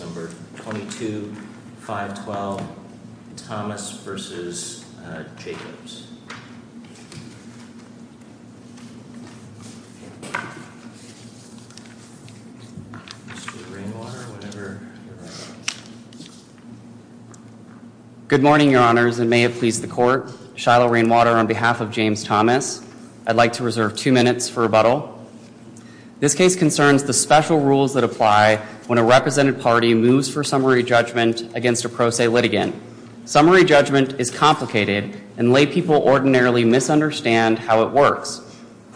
number 22, 512 Thomas versus Jacobs. Good morning, your honors and may it please the court. Shiloh Rainwater on behalf of James Thomas. I'd like to reserve two minutes for rebuttal. This case concerns the special rules that apply when a represented party moves for summary judgment against a pro se litigant. Summary judgment is complicated and lay people ordinarily misunderstand how it works.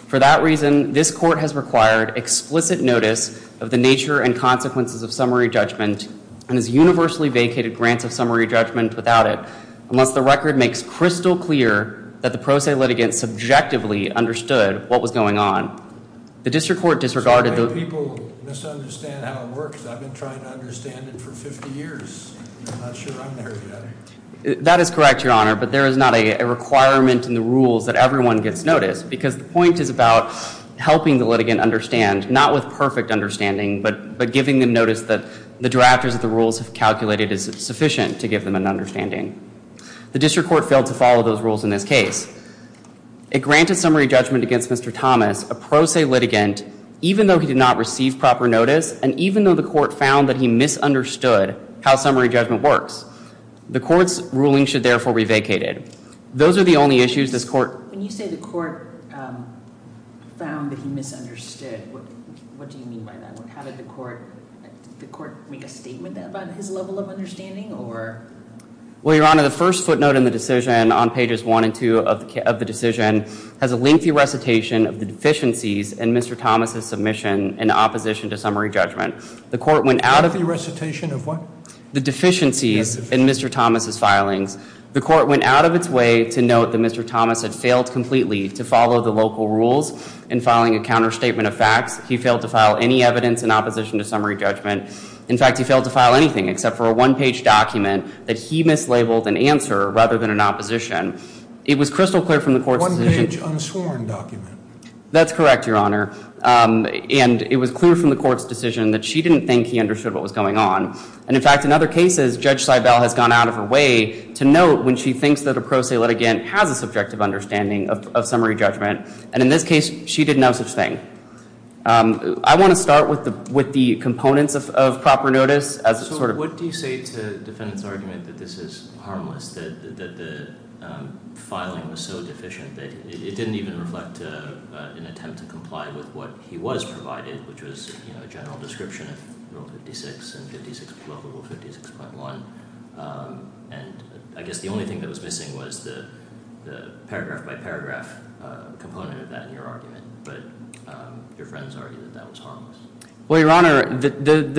For that reason, this court has required explicit notice of the nature and consequences of summary judgment and has universally vacated grants of summary judgment without it. Unless the record makes crystal clear that the pro se litigant subjectively understood what was going on, the district court disregarded the people misunderstand how it works. I've been trying to understand it for 50 years. I'm not sure I'm there yet. That is correct, your honor. But there is not a requirement in the rules that everyone gets notice because the point is about helping the litigant understand, not with perfect understanding. But giving them notice that the drafters of the rules have calculated is sufficient to give them an understanding. The district court failed to follow those rules in this case. It granted summary judgment against Mr. Thomas, a pro se litigant, even though he did not receive proper notice. And even though the court found that he misunderstood how summary judgment works, the court's ruling should therefore be vacated. When you say the court found that he misunderstood, what do you mean by that? Did the court make a statement about his level of understanding? Well, your honor, the first footnote in the decision on pages one and two of the decision has a lengthy recitation of the deficiencies in Mr. Thomas' submission in opposition to summary judgment. A lengthy recitation of what? The court went out of its way to note that Mr. Thomas had failed completely to follow the local rules in filing a counterstatement of facts. He failed to file any evidence in opposition to summary judgment. In fact, he failed to file anything except for a one page document that he mislabeled an answer rather than an opposition. It was crystal clear from the court's decision. One page unsworn document. That's correct, your honor. And it was clear from the court's decision that she didn't think he understood what was going on. And in fact, in other cases, Judge Seibel has gone out of her way to note when she thinks that a pro se litigant has a subjective understanding of summary judgment. And in this case, she didn't know such thing. I want to start with the components of proper notice. So what do you say to the defendant's argument that this is harmless, that the filing was so deficient that it didn't even reflect an attempt to comply with what he was provided, which was a general description of Rule 56 and Local Rule 56.1. And I guess the only thing that was missing was the paragraph by paragraph component of that in your argument. But your friends argue that that was harmless. Well, your honor, the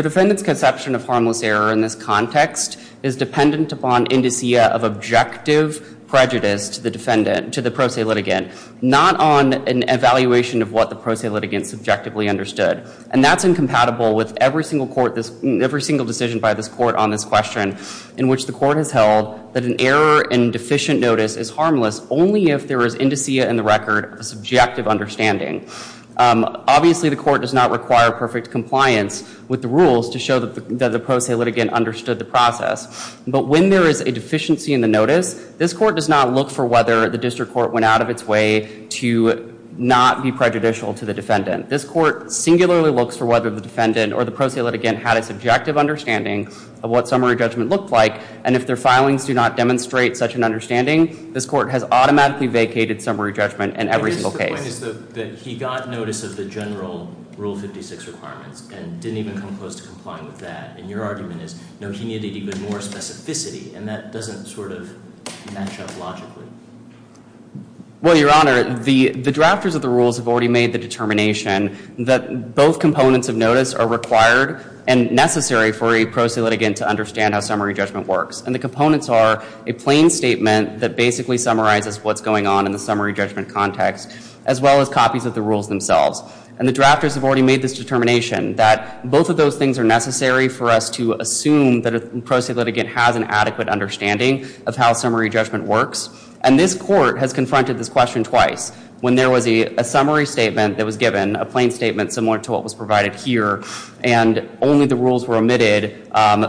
defendant's conception of harmless error in this context is dependent upon indicia of objective prejudice to the defendant, to the pro se litigant. Not on an evaluation of what the pro se litigant subjectively understood. And that's incompatible with every single decision by this court on this question, in which the court has held that an error in deficient notice is harmless only if there is indicia in the record of a subjective understanding. Obviously, the court does not require perfect compliance with the rules to show that the pro se litigant understood the process. But when there is a deficiency in the notice, this court does not look for whether the district court went out of its way to not be prejudicial to the defendant. This court singularly looks for whether the defendant or the pro se litigant had a subjective understanding of what summary judgment looked like. And if their filings do not demonstrate such an understanding, this court has automatically vacated summary judgment in every single case. My point is that he got notice of the general Rule 56 requirements and didn't even come close to complying with that. And your argument is, no, he needed even more specificity. And that doesn't sort of match up logically. Well, your honor, the drafters of the rules have already made the determination that both components of notice are required and necessary for a pro se litigant to understand how summary judgment works. And the components are a plain statement that basically summarizes what's going on in the summary judgment context, as well as copies of the rules themselves. And the drafters have already made this determination that both of those things are necessary for us to assume that a pro se litigant has an adequate understanding of how summary judgment works. And this court has confronted this question twice, when there was a summary statement that was given, a plain statement similar to what was provided here, and only the rules were omitted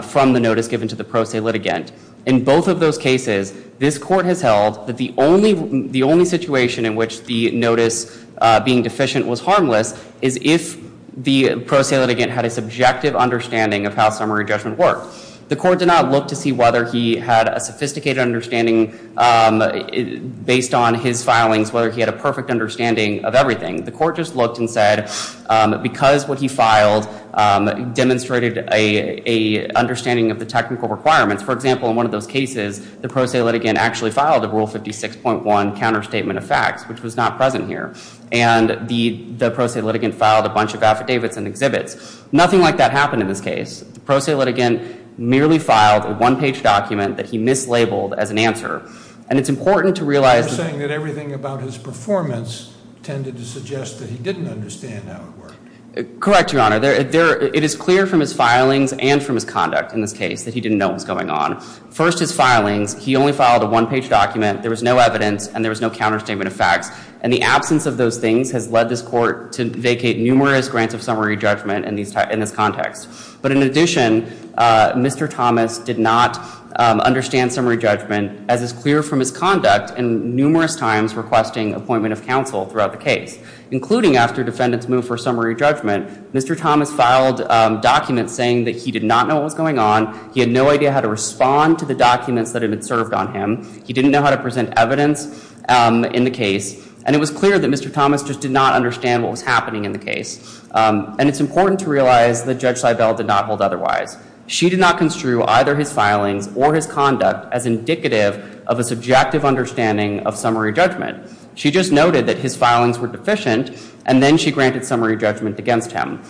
from the notice given to the pro se litigant. In both of those cases, this court has held that the only situation in which the notice being deficient was harmless is if the pro se litigant had a subjective understanding of how summary judgment worked. The court did not look to see whether he had a sophisticated understanding based on his filings, whether he had a perfect understanding of everything. The court just looked and said, because what he filed demonstrated an understanding of the technical requirements. For example, in one of those cases, the pro se litigant actually filed a Rule 56.1 counterstatement of facts, which was not present here. And the pro se litigant filed a bunch of affidavits and exhibits. Nothing like that happened in this case. The pro se litigant merely filed a one-page document that he mislabeled as an answer. And it's important to realize that everything about his performance tended to suggest that he didn't understand how it worked. Correct, Your Honor. It is clear from his filings and from his conduct in this case that he didn't know what was going on. First, his filings. He only filed a one-page document. There was no evidence, and there was no counterstatement of facts. And the absence of those things has led this court to vacate numerous grants of summary judgment in this context. But in addition, Mr. Thomas did not understand summary judgment, as is clear from his conduct, and numerous times requesting appointment of counsel throughout the case, including after defendants moved for summary judgment. Mr. Thomas filed documents saying that he did not know what was going on. He had no idea how to respond to the documents that had been served on him. He didn't know how to present evidence in the case. And it was clear that Mr. Thomas just did not understand what was happening in the case. And it's important to realize that Judge Seibel did not hold otherwise. She did not construe either his filings or his conduct as indicative of a subjective understanding of summary judgment. She just noted that his filings were deficient, and then she granted summary judgment against him.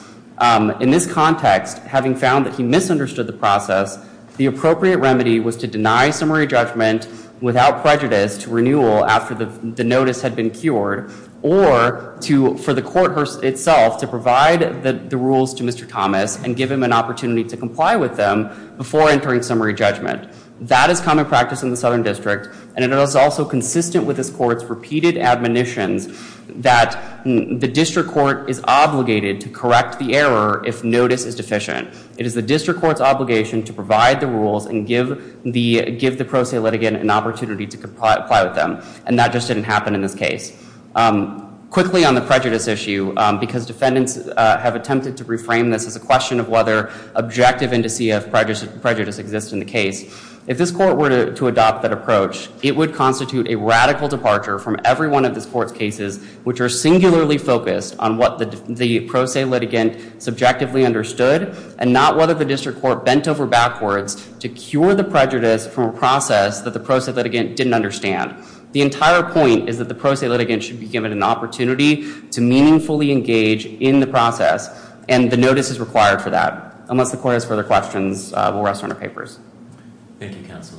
In this context, having found that he misunderstood the process, the appropriate remedy was to deny summary judgment without prejudice to renewal after the notice had been cured, or for the court itself to provide the rules to Mr. Thomas and give him an opportunity to comply with them before entering summary judgment. That is common practice in the Southern District, and it is also consistent with this court's repeated admonitions that the district court is obligated to correct the error if notice is deficient. It is the district court's obligation to provide the rules and give the pro se litigant an opportunity to comply with them. And that just didn't happen in this case. Quickly on the prejudice issue, because defendants have attempted to reframe this as a question of whether objective indice of prejudice exists in the case, if this court were to adopt that approach, it would constitute a radical departure from every one of this court's cases which are singularly focused on what the pro se litigant subjectively understood and not whether the district court bent over backwards to cure the prejudice from a process that the pro se litigant didn't understand. The entire point is that the pro se litigant should be given an opportunity to meaningfully engage in the process, and the notice is required for that. Unless the court has further questions, we'll rest on our papers. Thank you, counsel.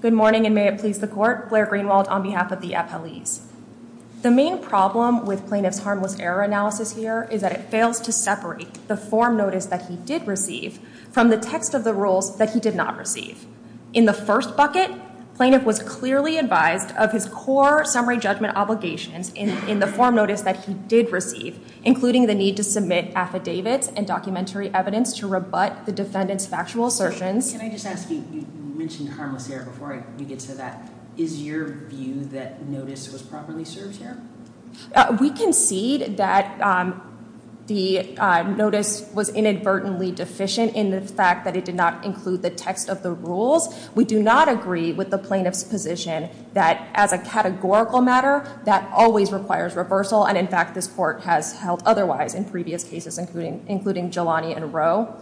Good morning, and may it please the court. Blair Greenwald on behalf of the appellees. The main problem with plaintiff's harmless error analysis here is that it fails to separate the form notice that he did receive from the text of the rules that he did not receive. In the first bucket, plaintiff was clearly advised of his core summary judgment obligations in the form notice that he did receive, including the need to submit affidavits and documentary evidence to rebut the defendant's factual assertions. Can I just ask you, you mentioned harmless error before we get to that. Is your view that notice was properly served here? We concede that the notice was inadvertently deficient in the fact that it did not include the text of the rules. We do not agree with the plaintiff's position that as a categorical matter, that always requires reversal, and in fact this court has held otherwise in previous cases, including Jelani and Rowe.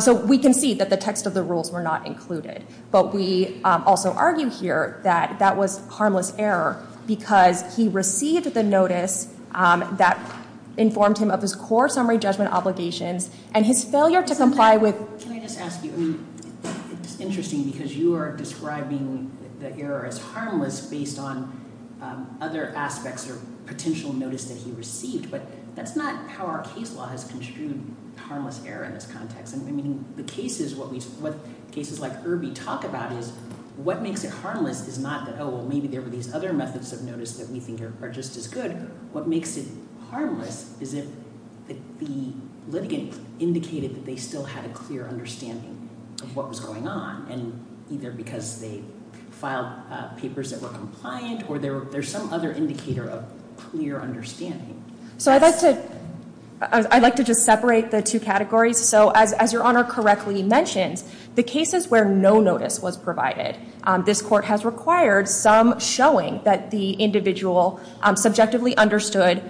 So we concede that the text of the rules were not included, but we also argue here that that was harmless error because he received the notice that informed him of his core summary judgment obligations, and his failure to comply with- Can I just ask you, it's interesting because you are describing the error as harmless based on other aspects or potential notice that he received, but that's not how our case law has construed harmless error in this context. I mean, the cases like Irby talk about is what makes it harmless is not that, oh, well maybe there were these other methods of notice that we think are just as good. What makes it harmless is if the litigant indicated that they still had a clear understanding of what was going on, and either because they filed papers that were compliant or there's some other indicator of clear understanding. So I'd like to just separate the two categories. So as your Honor correctly mentioned, the cases where no notice was provided, this court has required some showing that the individual subjectively understood,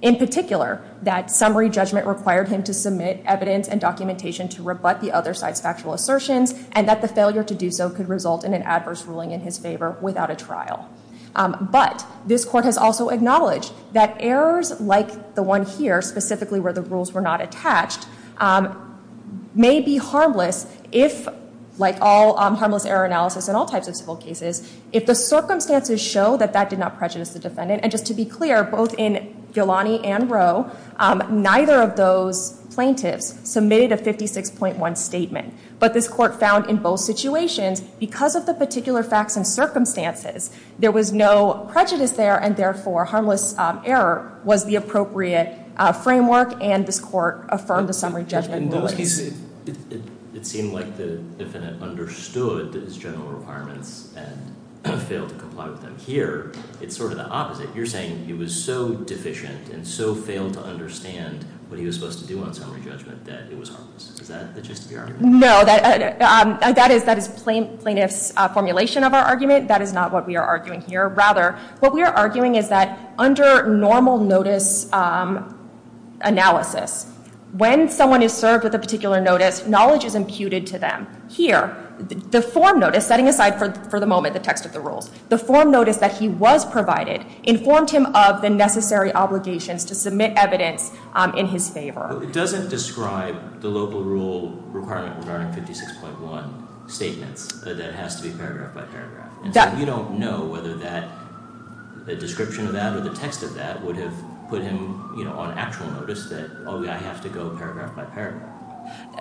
in particular that summary judgment required him to submit evidence and documentation to rebut the other side's factual assertions, and that the failure to do so could result in an adverse ruling in his favor without a trial. But this court has also acknowledged that errors like the one here, specifically where the rules were not attached, may be harmless if, like all harmless error analysis in all types of civil cases, if the circumstances show that that did not prejudice the defendant. And just to be clear, both in Ghilani and Roe, neither of those plaintiffs submitted a 56.1 statement, but this court found in both situations, because of the particular facts and circumstances, there was no prejudice there, and therefore harmless error was the appropriate framework, and this court affirmed the summary judgment in both cases. It seemed like the defendant understood his general requirements and failed to comply with them. Here, it's sort of the opposite. You're saying he was so deficient and so failed to understand what he was supposed to do on summary judgment that it was harmless. Is that the gist of your argument? No, that is plaintiff's formulation of our argument. That is not what we are arguing here. Rather, what we are arguing is that under normal notice analysis, when someone is served with a particular notice, knowledge is imputed to them. Here, the form notice, setting aside for the moment the text of the rules, the form notice that he was provided informed him of the necessary obligations to submit evidence in his favor. It doesn't describe the local rule requirement regarding 56.1 statements, that it has to be paragraph by paragraph. You don't know whether the description of that or the text of that would have put him on actual notice, that I have to go paragraph by paragraph.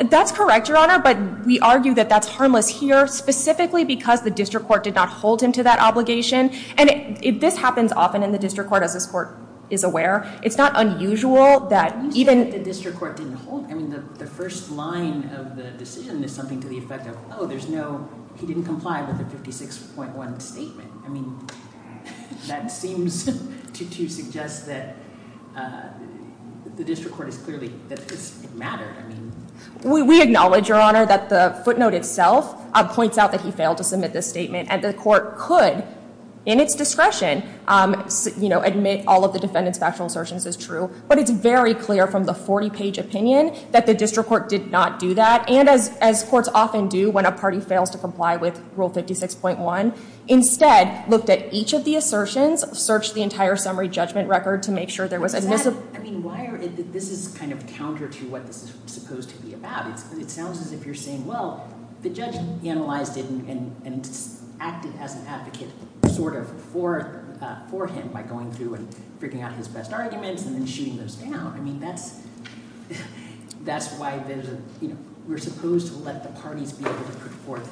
That's correct, Your Honor, but we argue that that's harmless here, specifically because the district court did not hold him to that obligation, and this happens often in the district court, as this court is aware. It's not unusual that even— It's unusual that the district court didn't hold him. The first line of the decision is something to the effect of, oh, he didn't comply with the 56.1 statement. I mean, that seems to suggest that the district court is clearly—that this mattered. We acknowledge, Your Honor, that the footnote itself points out that he failed to submit this statement, and the court could, in its discretion, admit all of the defendant's factual assertions as true, but it's very clear from the 40-page opinion that the district court did not do that, and as courts often do when a party fails to comply with Rule 56.1, instead looked at each of the assertions, searched the entire summary judgment record to make sure there was— I mean, why are—this is kind of counter to what this is supposed to be about. It sounds as if you're saying, well, the judge analyzed it and acted as an advocate sort of for him by going through and figuring out his best arguments and then shooting those down. I mean, that's why we're supposed to let the parties be able to put forth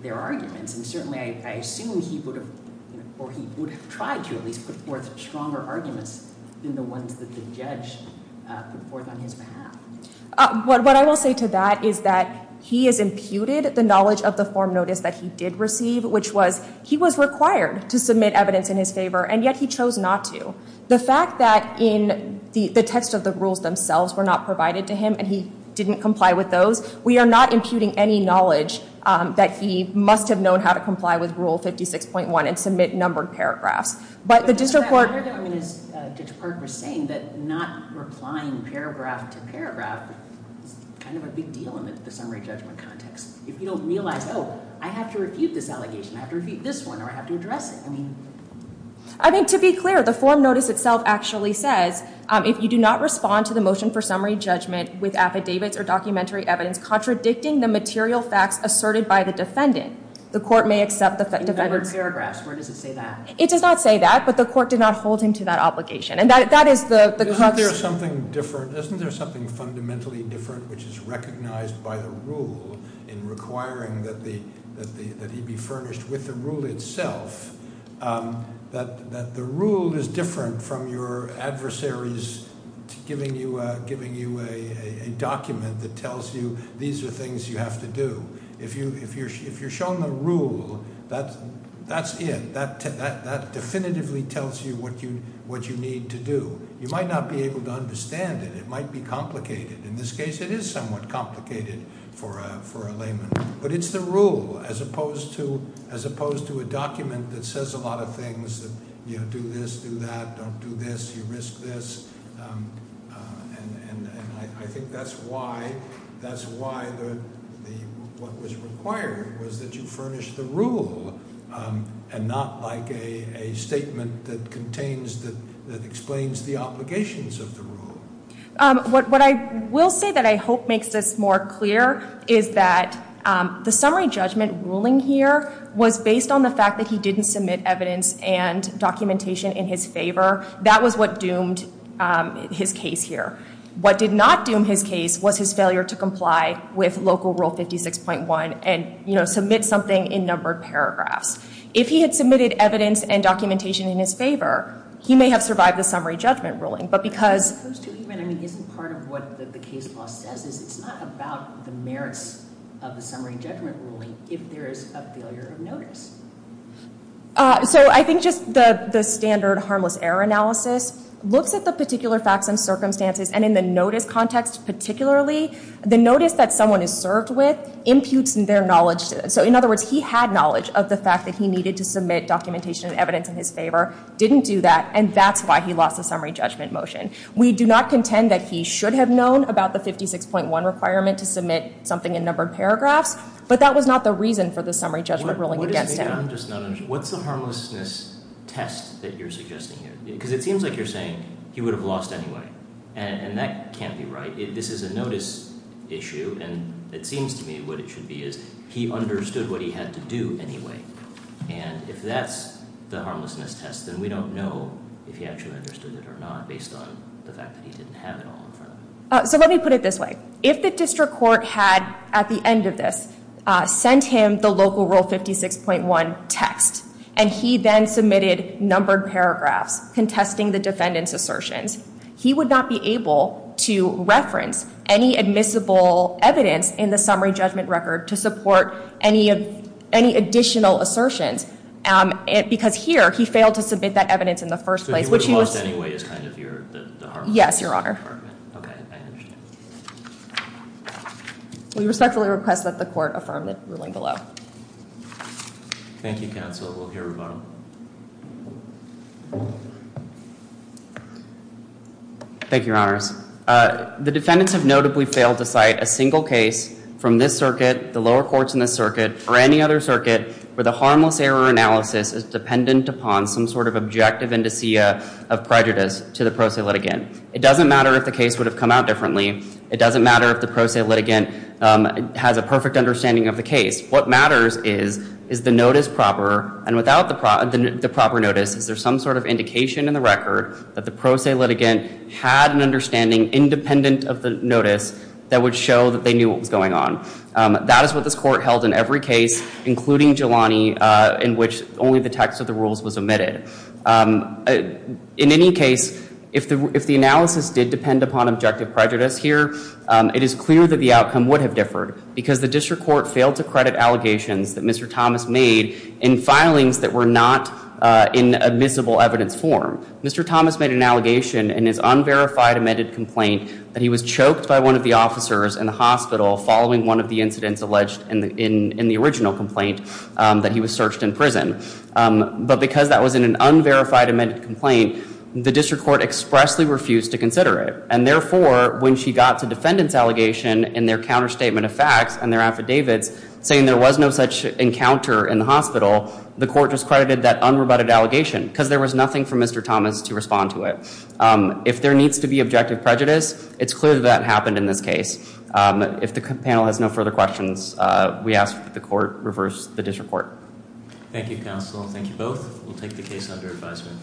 their arguments, and certainly I assume he would have—or he would have tried to at least put forth stronger arguments than the ones that the judge put forth on his behalf. What I will say to that is that he has imputed the knowledge of the form notice that he did receive, which was he was required to submit evidence in his favor, and yet he chose not to. The fact that in the text of the rules themselves were not provided to him and he didn't comply with those, we are not imputing any knowledge that he must have known how to comply with Rule 56.1 and submit numbered paragraphs. But the district court— I mean, as Judge Park was saying, that not replying paragraph to paragraph is kind of a big deal in the summary judgment context. If you don't realize, oh, I have to refute this allegation, I have to refute this one, or I have to address it. I mean— I mean, to be clear, the form notice itself actually says, if you do not respond to the motion for summary judgment with affidavits or documentary evidence contradicting the material facts asserted by the defendant, the court may accept the defendant's— Numbered paragraphs. Where does it say that? It does not say that, but the court did not hold him to that obligation. And that is the— Isn't there something fundamentally different which is recognized by the rule in requiring that he be furnished with the rule itself? That the rule is different from your adversaries giving you a document that tells you these are things you have to do. If you're shown the rule, that's it. That definitively tells you what you need to do. You might not be able to understand it. It might be complicated. In this case, it is somewhat complicated for a layman. But it's the rule as opposed to a document that says a lot of things. Do this, do that. Don't do this. You risk this. And I think that's why—that's why what was required was that you furnish the rule and not like a statement that contains—that explains the obligations of the rule. What I will say that I hope makes this more clear is that the summary judgment ruling here was based on the fact that he didn't submit evidence and documentation in his favor. That was what doomed his case here. What did not doom his case was his failure to comply with Local Rule 56.1 and, you know, submit something in numbered paragraphs. If he had submitted evidence and documentation in his favor, he may have survived the summary judgment ruling. But because— of the summary judgment ruling if there is a failure of notice. So I think just the standard harmless error analysis looks at the particular facts and circumstances. And in the notice context particularly, the notice that someone is served with imputes their knowledge. So in other words, he had knowledge of the fact that he needed to submit documentation and evidence in his favor, didn't do that, and that's why he lost the summary judgment motion. We do not contend that he should have known about the 56.1 requirement to submit something in numbered paragraphs, but that was not the reason for the summary judgment ruling against him. What's the harmlessness test that you're suggesting here? Because it seems like you're saying he would have lost anyway, and that can't be right. This is a notice issue, and it seems to me what it should be is he understood what he had to do anyway. And if that's the harmlessness test, then we don't know if he actually understood it or not, based on the fact that he didn't have it all in front of him. So let me put it this way. If the district court had, at the end of this, sent him the local Rule 56.1 text, and he then submitted numbered paragraphs contesting the defendant's assertions, he would not be able to reference any admissible evidence in the summary judgment record to support any additional assertions because here he failed to submit that evidence in the first place. So he would have lost anyway is kind of the harm. Yes, Your Honor. Okay, I understand. We respectfully request that the court affirm the ruling below. Thank you, counsel. We'll hear from him. Thank you, Your Honors. The defendants have notably failed to cite a single case from this circuit, the lower courts in this circuit, or any other circuit where the harmless error analysis is dependent upon some sort of objective indicia of prejudice to the pro se litigant. It doesn't matter if the case would have come out differently. It doesn't matter if the pro se litigant has a perfect understanding of the case. What matters is, is the notice proper, and without the proper notice, is there some sort of indication in the record that the pro se litigant had an understanding independent of the notice that would show that they knew what was going on? That is what this court held in every case, including Jelani, in which only the text of the rules was omitted. In any case, if the analysis did depend upon objective prejudice here, it is clear that the outcome would have differed because the district court failed to credit allegations that Mr. Thomas made in filings that were not in admissible evidence form. Mr. Thomas made an allegation in his unverified amended complaint that he was choked by one of the officers in the hospital following one of the incidents alleged in the original complaint that he was searched in prison. But because that was in an unverified amended complaint, the district court expressly refused to consider it. And therefore, when she got to defendants' allegation in their counterstatement of facts and their affidavits, saying there was no such encounter in the hospital, the court discredited that unrebutted allegation because there was nothing for Mr. Thomas to respond to it. If there needs to be objective prejudice, it's clear that that happened in this case. If the panel has no further questions, we ask that the court reverse the district court. Thank you, counsel. Thank you both. We'll take the case under advisement.